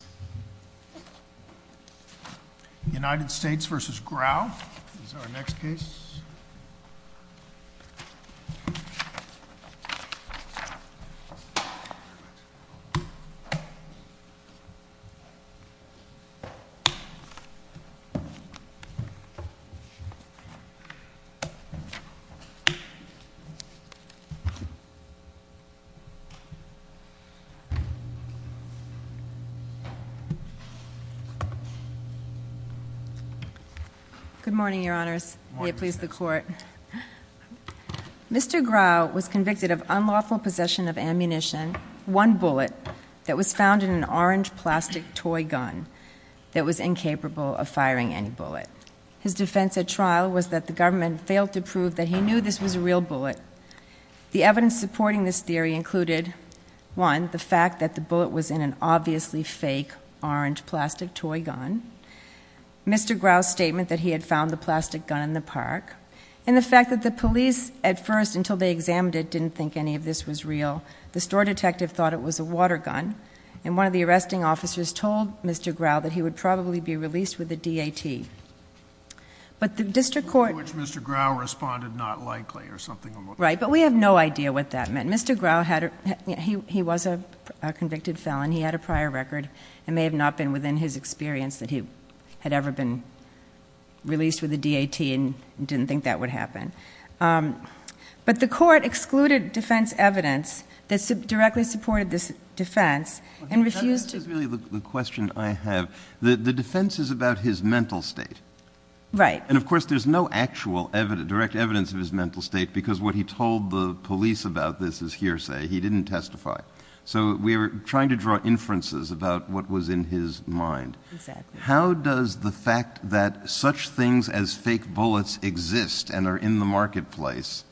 This is our next case. Good morning, your honors. May it please the court. Mr. Grau was convicted of unlawful possession of ammunition, one bullet, that was found in an orange plastic toy gun that was incapable of firing any bullet. His defense at trial was that the government failed to prove that he knew this was a real bullet. The evidence supporting this theory included, one, the fact that the bullet was in an obviously fake orange plastic toy gun, Mr. Grau's statement that he had found the plastic gun in the park, and the fact that the police, at first, until they examined it, didn't think any of this was real. The store detective thought it was a water gun, and one of the arresting officers told Mr. Grau that he would probably be released with a D.A.T. Which Mr. Grau responded, not likely, or something along those lines. Right, but we have no idea what that meant. Mr. Grau was a convicted felon. He had a prior record. It may have not been within his experience that he had ever been released with a D.A.T. and didn't think that would happen. But the court excluded defense evidence that directly supported this defense and refused to That's really the question I have. The defense is about his mental state. Right. And, of course, there's no actual direct evidence of his mental state because what he told the police about this is hearsay. He didn't testify. So we're trying to draw inferences about what was in his mind. Exactly. How does the fact that such things as fake bullets exist and are in the marketplace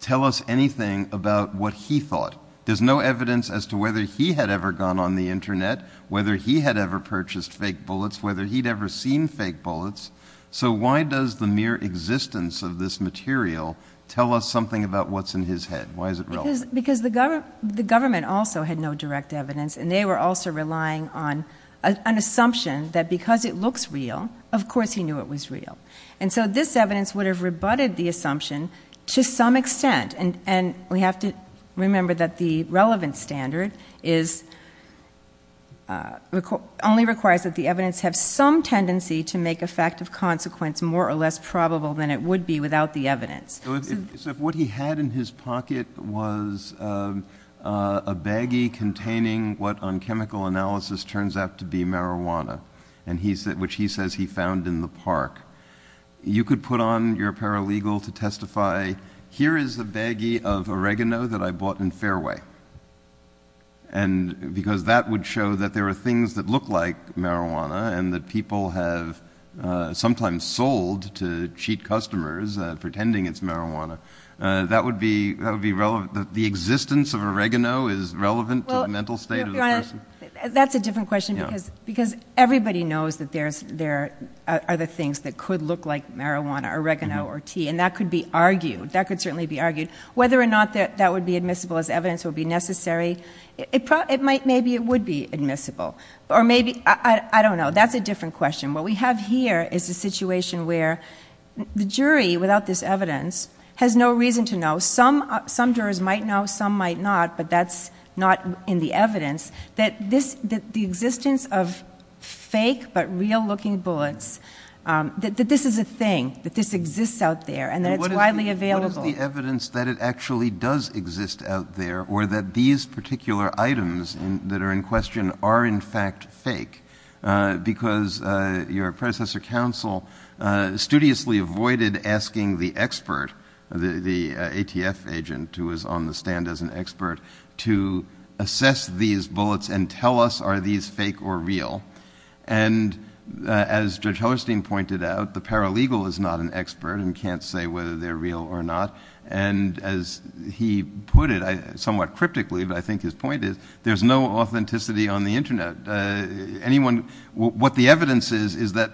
tell us anything about what he thought? There's no evidence as to whether he had ever gone on the Internet, whether he had ever purchased fake bullets, whether he'd ever seen fake bullets. So why does the mere existence of this material tell us something about what's in his head? Why is it relevant? Because the government also had no direct evidence. And they were also relying on an assumption that because it looks real, of course he knew it was real. And so this evidence would have rebutted the assumption to some extent. And we have to remember that the relevant standard only requires that the evidence have some tendency to make a fact of consequence more or less probable than it would be without the evidence. So if what he had in his pocket was a baggie containing what on chemical analysis turns out to be marijuana, which he says he found in the park, you could put on your paralegal to testify, here is a baggie of oregano that I bought in Fairway. And because that would show that there are things that look like marijuana and that people have sometimes sold to cheat customers pretending it's marijuana, that would be relevant, that the existence of oregano is relevant to the mental state of the person. That's a different question because everybody knows that there are other things that could look like marijuana, oregano, or tea. And that could be argued. That could certainly be argued. Whether or not that would be admissible as evidence would be necessary. Maybe it would be admissible. Or maybe, I don't know. That's a different question. What we have here is a situation where the jury, without this evidence, has no reason to know. Some jurors might know, some might not, but that's not in the evidence. That the existence of fake but real looking bullets, that this is a thing, that this exists out there, and that it's widely available. What is the evidence that it actually does exist out there or that these particular items that are in question are in fact fake? Because your predecessor counsel studiously avoided asking the expert, the ATF agent who was on the stand as an expert, to assess these bullets and tell us are these fake or real. And as Judge Hollerstein pointed out, the paralegal is not an expert and can't say whether they're real or not. And as he put it, somewhat cryptically, but I think his point is, there's no authenticity on the Internet. What the evidence is, is that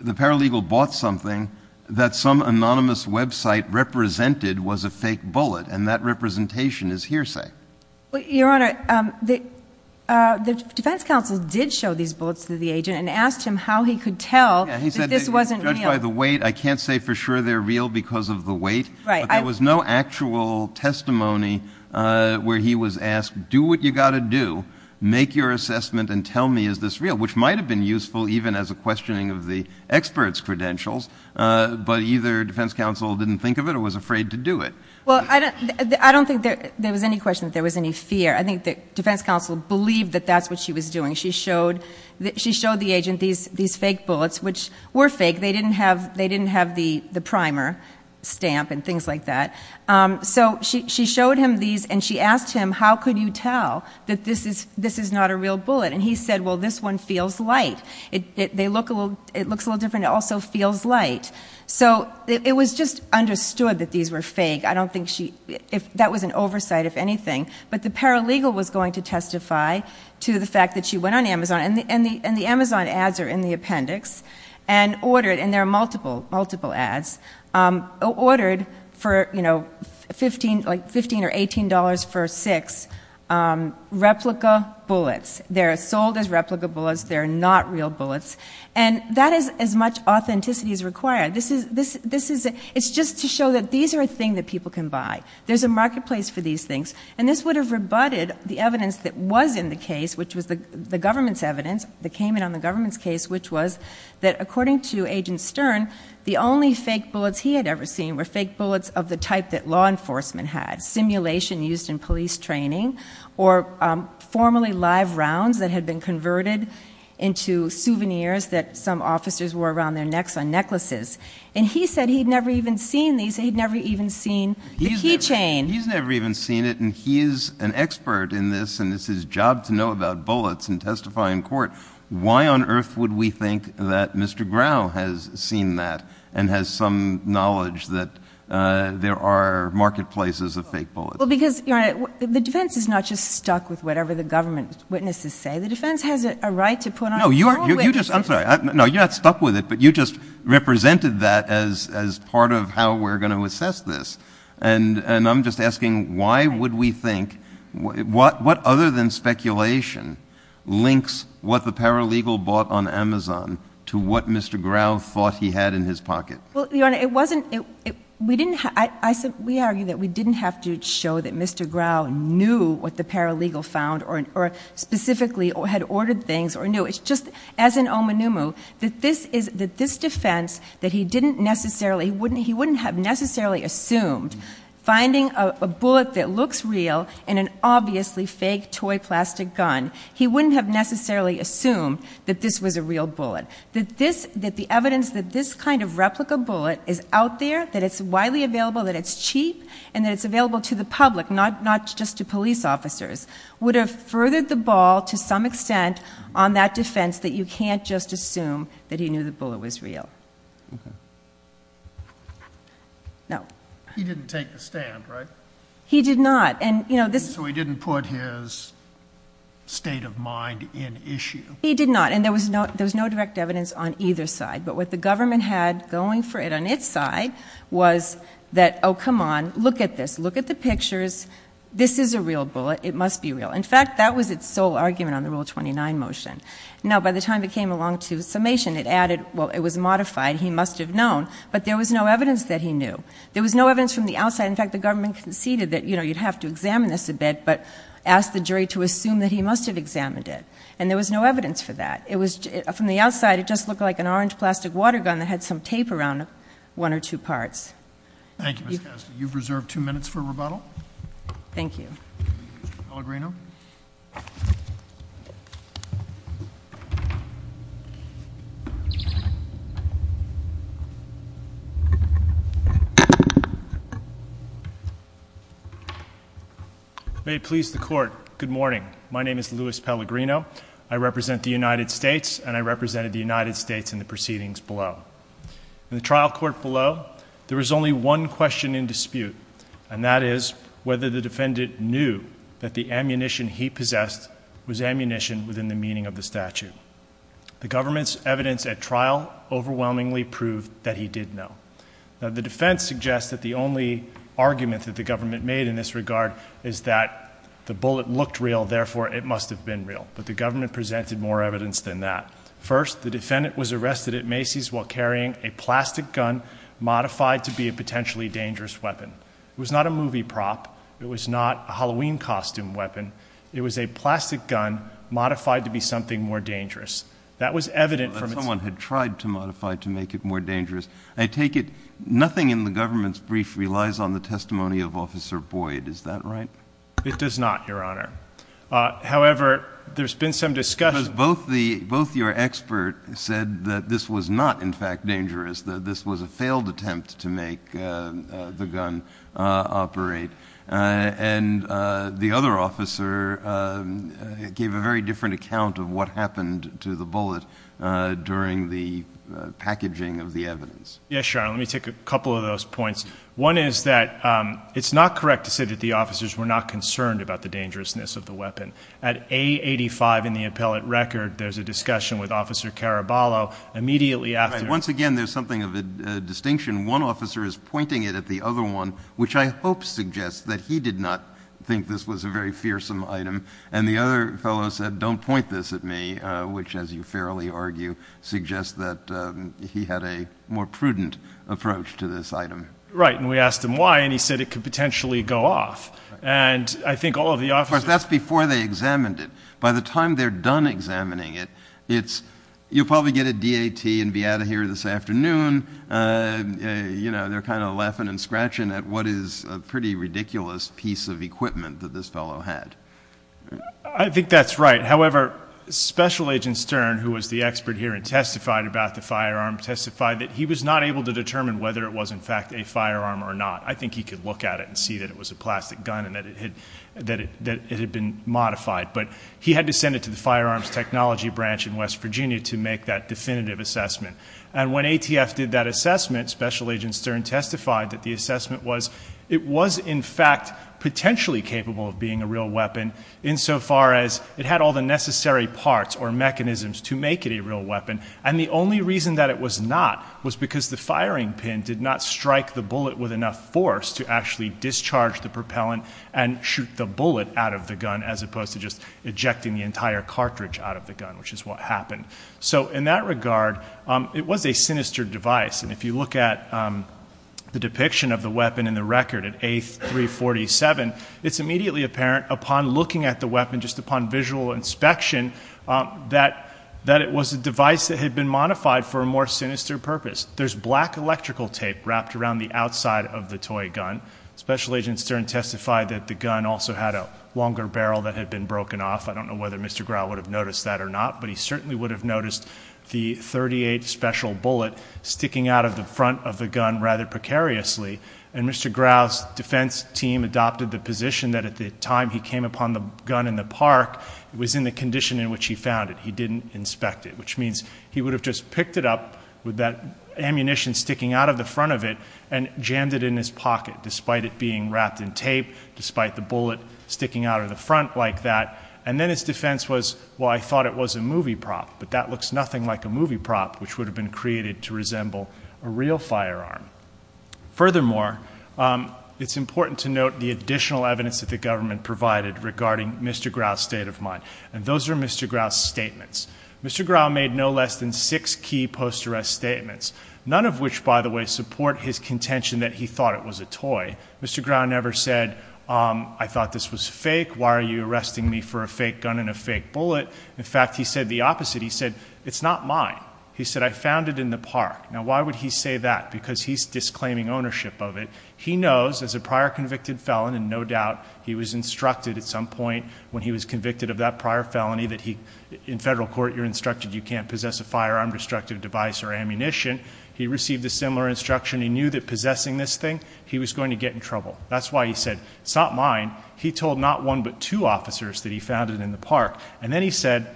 the paralegal bought something that some anonymous website represented was a fake bullet. And that representation is hearsay. Your Honor, the defense counsel did show these bullets to the agent and asked him how he could tell that this wasn't real. Yeah, he said they were judged by the weight. I can't say for sure they're real because of the weight. Right. But there was no actual testimony where he was asked, do what you got to do. Make your assessment and tell me is this real, which might have been useful even as a questioning of the expert's credentials. But either defense counsel didn't think of it or was afraid to do it. Well, I don't think there was any question that there was any fear. I think the defense counsel believed that that's what she was doing. She showed the agent these fake bullets, which were fake. They didn't have the primer stamp and things like that. So she showed him these and she asked him, how could you tell that this is not a real bullet? And he said, well, this one feels light. It looks a little different. It also feels light. So it was just understood that these were fake. That was an oversight, if anything. But the paralegal was going to testify to the fact that she went on Amazon. And the Amazon ads are in the appendix and ordered, and there are multiple ads, ordered for $15 or $18 for six replica bullets. They're sold as replica bullets. They're not real bullets. And that is as much authenticity as required. It's just to show that these are a thing that people can buy. There's a marketplace for these things. And this would have rebutted the evidence that was in the case, which was the government's evidence, that came in on the government's case, which was that, according to Agent Stern, the only fake bullets he had ever seen were fake bullets of the type that law enforcement had, simulation used in police training, or formerly live rounds that had been converted into souvenirs that some officers wore around their necks on necklaces. And he said he'd never even seen these. He'd never even seen the key chain. He's never even seen it. And he is an expert in this, and it's his job to know about bullets and testify in court. Why on earth would we think that Mr. Grau has seen that and has some knowledge that there are marketplaces of fake bullets? Well, because, Your Honor, the defense is not just stuck with whatever the government witnesses say. The defense has a right to put on the floor with it. No, you're not stuck with it, but you just represented that as part of how we're going to assess this. And I'm just asking, why would we think, what other than speculation links what the paralegal bought on Amazon to what Mr. Grau thought he had in his pocket? Well, Your Honor, we argue that we didn't have to show that Mr. Grau knew what the paralegal found or specifically had ordered things or knew. It's just, as in Omanumu, that this defense that he didn't necessarily, he wouldn't have necessarily assumed, finding a bullet that looks real in an obviously fake toy plastic gun, he wouldn't have necessarily assumed that this was a real bullet. That the evidence that this kind of replica bullet is out there, that it's widely available, that it's cheap, and that it's available to the public, not just to police officers, would have furthered the ball to some extent on that defense that you can't just assume that he knew the bullet was real. No. He didn't take the stand, right? He did not. So he didn't put his state of mind in issue? He did not, and there was no direct evidence on either side. But what the government had going for it on its side was that, oh, come on, look at this. Look at the pictures. This is a real bullet. It must be real. In fact, that was its sole argument on the Rule 29 motion. Now, by the time it came along to summation, it added, well, it was modified. He must have known. But there was no evidence that he knew. There was no evidence from the outside. In fact, the government conceded that, you know, you'd have to examine this a bit, but asked the jury to assume that he must have examined it. And there was no evidence for that. From the outside, it just looked like an orange plastic water gun that had some tape around one or two parts. Thank you, Ms. Kastner. You've reserved two minutes for rebuttal. Thank you. Pellegrino. May it please the Court, good morning. My name is Louis Pellegrino. I represent the United States, and I represented the United States in the proceedings below. In the trial court below, there was only one question in dispute, and that is whether the defendant knew that the ammunition he possessed was ammunition within the meaning of the statute. The government's evidence at trial overwhelmingly proved that he did know. Now, the defense suggests that the only argument that the government made in this regard is that the bullet looked real, therefore it must have been real. But the government presented more evidence than that. First, the defendant was arrested at Macy's while carrying a plastic gun modified to be a potentially dangerous weapon. It was not a movie prop. It was not a Halloween costume weapon. It was a plastic gun modified to be something more dangerous. That was evident from its ---- Someone had tried to modify it to make it more dangerous. I take it nothing in the government's brief relies on the testimony of Officer Boyd. Is that right? It does not, Your Honor. However, there's been some discussion ---- Because both your experts said that this was not, in fact, dangerous, that this was a failed attempt to make the gun operate. And the other officer gave a very different account of what happened to the bullet during the packaging of the evidence. Yes, Your Honor. Let me take a couple of those points. One is that it's not correct to say that the officers were not concerned about the dangerousness of the weapon. At A85 in the appellate record, there's a discussion with Officer Caraballo immediately after ---- Once again, there's something of a distinction. One officer is pointing it at the other one, which I hope suggests that he did not think this was a very fearsome item. And the other fellow said, don't point this at me, which, as you fairly argue, suggests that he had a more prudent approach to this item. Right, and we asked him why, and he said it could potentially go off. And I think all of the officers ---- Of course, that's before they examined it. By the time they're done examining it, you'll probably get a DAT and be out of here this afternoon. They're kind of laughing and scratching at what is a pretty ridiculous piece of equipment that this fellow had. I think that's right. However, Special Agent Stern, who was the expert here and testified about the firearm, testified that he was not able to determine whether it was, in fact, a firearm or not. I think he could look at it and see that it was a plastic gun and that it had been modified. But he had to send it to the firearms technology branch in West Virginia to make that definitive assessment. And when ATF did that assessment, Special Agent Stern testified that the assessment was it was, in fact, potentially capable of being a real weapon insofar as it had all the necessary parts or mechanisms to make it a real weapon. And the only reason that it was not was because the firing pin did not strike the bullet with enough force to actually discharge the propellant and shoot the bullet out of the gun, as opposed to just ejecting the entire cartridge out of the gun, which is what happened. So in that regard, it was a sinister device. And if you look at the depiction of the weapon in the record at A347, it's immediately apparent upon looking at the weapon just upon visual inspection that it was a device that had been modified for a more sinister purpose. There's black electrical tape wrapped around the outside of the toy gun. Special Agent Stern testified that the gun also had a longer barrel that had been broken off. I don't know whether Mr. Grau would have noticed that or not, but he certainly would have noticed the .38 special bullet sticking out of the front of the gun rather precariously. And Mr. Grau's defense team adopted the position that at the time he came upon the gun in the park, it was in the condition in which he found it. Which means he would have just picked it up with that ammunition sticking out of the front of it and jammed it in his pocket despite it being wrapped in tape, despite the bullet sticking out of the front like that. And then his defense was, well, I thought it was a movie prop, but that looks nothing like a movie prop, which would have been created to resemble a real firearm. Furthermore, it's important to note the additional evidence that the government provided regarding Mr. Grau's state of mind. And those are Mr. Grau's statements. Mr. Grau made no less than six key post-arrest statements, none of which, by the way, support his contention that he thought it was a toy. Mr. Grau never said, I thought this was fake. Why are you arresting me for a fake gun and a fake bullet? In fact, he said the opposite. He said, it's not mine. He said, I found it in the park. Now, why would he say that? Because he's disclaiming ownership of it. He knows, as a prior convicted felon, and no doubt he was instructed at some point when he was convicted of that prior felony that he, in federal court, you're instructed you can't possess a firearm, destructive device, or ammunition. He received a similar instruction. He knew that possessing this thing, he was going to get in trouble. That's why he said, it's not mine. He told not one but two officers that he found it in the park. And then he said,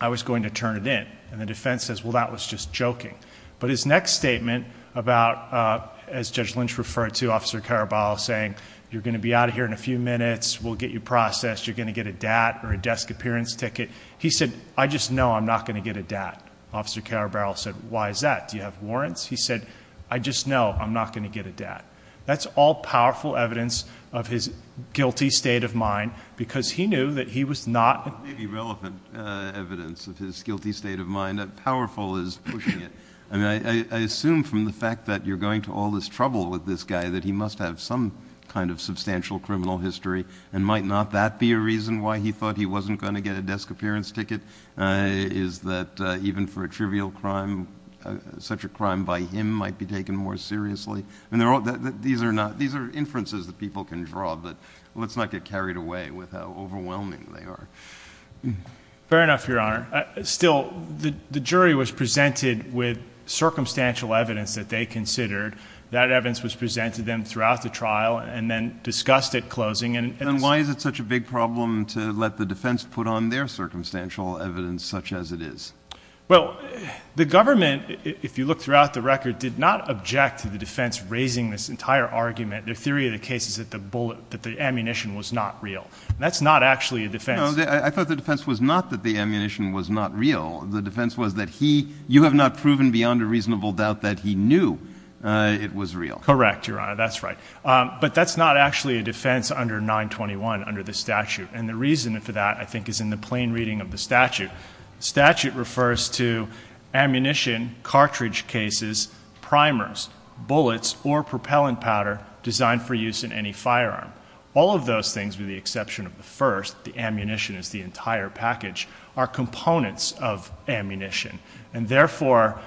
I was going to turn it in. And the defense says, well, that was just joking. But his next statement about, as Judge Lynch referred to, Officer Caraballo saying, you're going to be out of here in a few minutes. We'll get you processed. You're going to get a DAT or a desk appearance ticket. He said, I just know I'm not going to get a DAT. Officer Caraballo said, why is that? Do you have warrants? He said, I just know I'm not going to get a DAT. That's all powerful evidence of his guilty state of mind because he knew that he was not. Maybe relevant evidence of his guilty state of mind. Powerful is pushing it. I assume from the fact that you're going to all this trouble with this guy that he must have some kind of substantial criminal history. And might not that be a reason why he thought he wasn't going to get a desk appearance ticket? Is that even for a trivial crime, such a crime by him might be taken more seriously? These are inferences that people can draw, but let's not get carried away with how overwhelming they are. Fair enough, Your Honor. Still, the jury was presented with circumstantial evidence that they considered. That evidence was presented to them throughout the trial and then discussed at closing. And why is it such a big problem to let the defense put on their circumstantial evidence such as it is? Well, the government, if you look throughout the record, did not object to the defense raising this entire argument. Their theory of the case is that the ammunition was not real. That's not actually a defense. I thought the defense was not that the ammunition was not real. The defense was that you have not proven beyond a reasonable doubt that he knew it was real. Correct, Your Honor. That's right. But that's not actually a defense under 921 under the statute. And the reason for that, I think, is in the plain reading of the statute. The statute refers to ammunition, cartridge cases, primers, bullets, or propellant powder designed for use in any firearm. All of those things, with the exception of the first, the ammunition is the entire package, are components of ammunition. And therefore,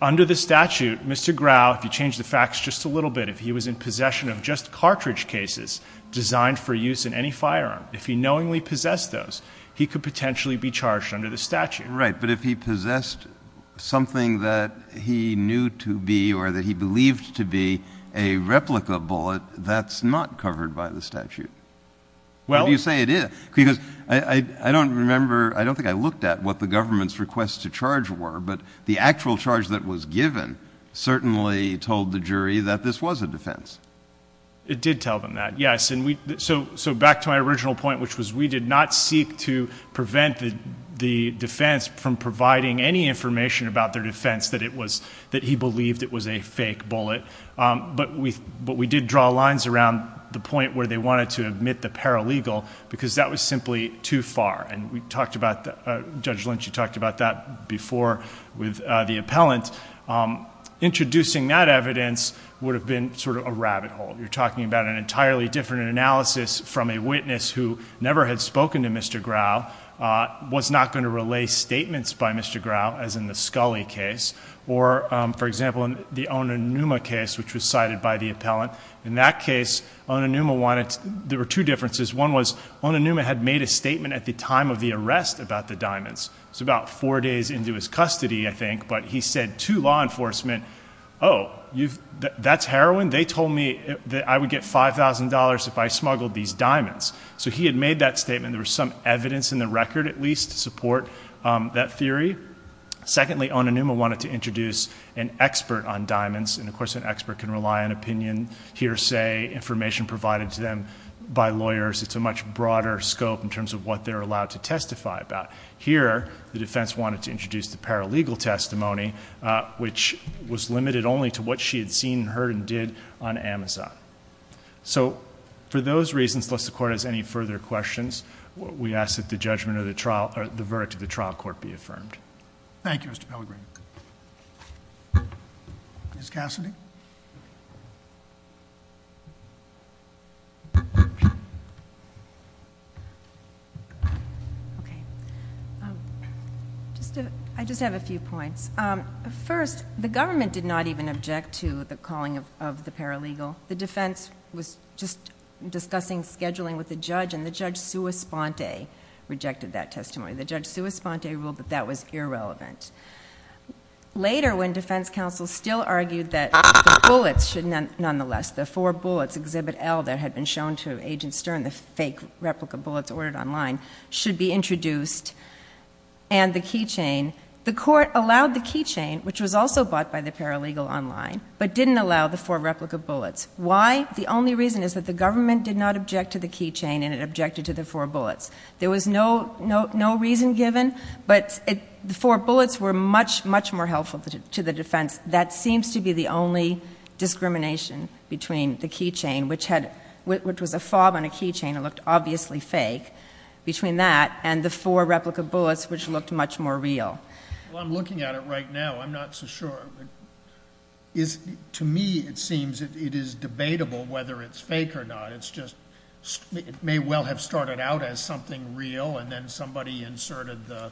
under the statute, Mr. Grau, if you change the facts just a little bit, if he was in possession of just cartridge cases designed for use in any firearm, if he knowingly possessed those, he could potentially be charged under the statute. Right, but if he possessed something that he knew to be or that he believed to be a replica bullet, that's not covered by the statute. How do you say it is? Because I don't remember, I don't think I looked at what the government's requests to charge were, but the actual charge that was given certainly told the jury that this was a defense. It did tell them that, yes. So back to my original point, which was we did not seek to prevent the defense from providing any information about their defense that he believed it was a fake bullet. But we did draw lines around the point where they wanted to admit the paralegal because that was simply too far. And Judge Lynch, you talked about that before with the appellant. Introducing that evidence would have been sort of a rabbit hole. You're talking about an entirely different analysis from a witness who never had spoken to Mr. Grau, was not going to relay statements by Mr. Grau, as in the Scully case. Or, for example, in the Onanuma case, which was cited by the appellant. In that case, there were two differences. One was Onanuma had made a statement at the time of the arrest about the diamonds. It was about four days into his custody, I think. But he said to law enforcement, oh, that's heroin? They told me that I would get $5,000 if I smuggled these diamonds. So he had made that statement. There was some evidence in the record, at least, to support that theory. Secondly, Onanuma wanted to introduce an expert on diamonds. And, of course, an expert can rely on opinion, hearsay, information provided to them by lawyers. It's a much broader scope in terms of what they're allowed to testify about. Here, the defense wanted to introduce the paralegal testimony, which was limited only to what she had seen, heard, and did on Amazon. So, for those reasons, unless the court has any further questions, we ask that the verdict of the trial court be affirmed. Thank you, Mr. Pellegrino. Ms. Cassidy? I just have a few points. First, the government did not even object to the calling of the paralegal. The defense was just discussing scheduling with the judge, and the judge sua sponte rejected that testimony. The judge sua sponte ruled that that was irrelevant. Later, when defense counsel still argued that the bullets should nonetheless, the four bullets, Exhibit L, that had been shown to Agent Stern, the fake replica bullets ordered online, should be introduced, and the keychain, the court allowed the keychain, which was also bought by the paralegal online, but didn't allow the four replica bullets. Why? The only reason is that the government did not object to the keychain, and it objected to the four bullets. There was no reason given, but the four bullets were much, much more helpful to the defense. That seems to be the only discrimination between the keychain, which was a fob on a keychain that looked obviously fake, between that and the four replica bullets, which looked much more real. Well, I'm looking at it right now. I'm not so sure. To me, it seems it is debatable whether it's fake or not. It may well have started out as something real, and then somebody inserted the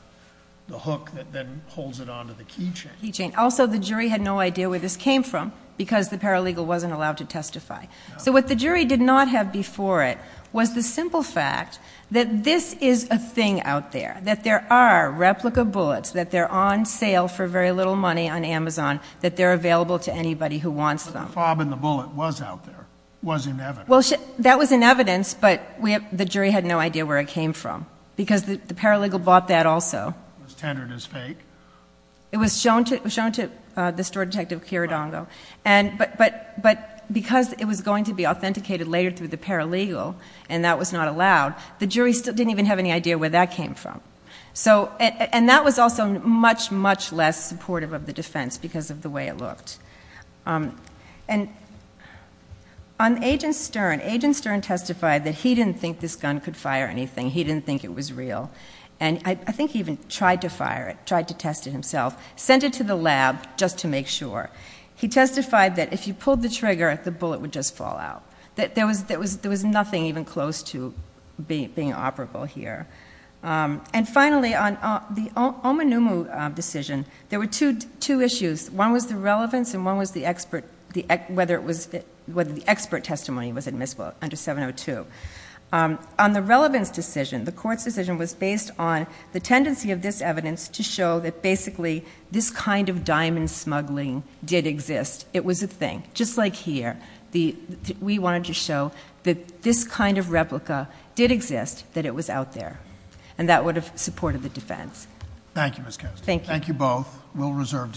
hook that then holds it onto the keychain. Also, the jury had no idea where this came from, because the paralegal wasn't allowed to testify. So what the jury did not have before it was the simple fact that this is a thing out there, that there are replica bullets, that they're on sale for very little money on Amazon, that they're available to anybody who wants them. So the fact that the fob in the bullet was out there was in evidence. Well, that was in evidence, but the jury had no idea where it came from, because the paralegal bought that also. It was tendered as fake. It was shown to the store detective, Kiridongo. But because it was going to be authenticated later through the paralegal, and that was not allowed, the jury didn't even have any idea where that came from. And that was also much, much less supportive of the defense because of the way it looked. On Agent Stern, Agent Stern testified that he didn't think this gun could fire anything. He didn't think it was real. And I think he even tried to fire it, tried to test it himself, sent it to the lab just to make sure. He testified that if you pulled the trigger, the bullet would just fall out. There was nothing even close to being operable here. And finally, on the Omanumu decision, there were two issues. One was the relevance, and one was whether the expert testimony was admissible under 702. On the relevance decision, the court's decision was based on the tendency of this evidence to show that basically this kind of diamond smuggling did exist. It was a thing. Just like here, we wanted to show that this kind of replica did exist, that it was out there. And that would have supported the defense. Thank you, Ms. Kastner. Thank you. Thank you both. We'll reserve decision.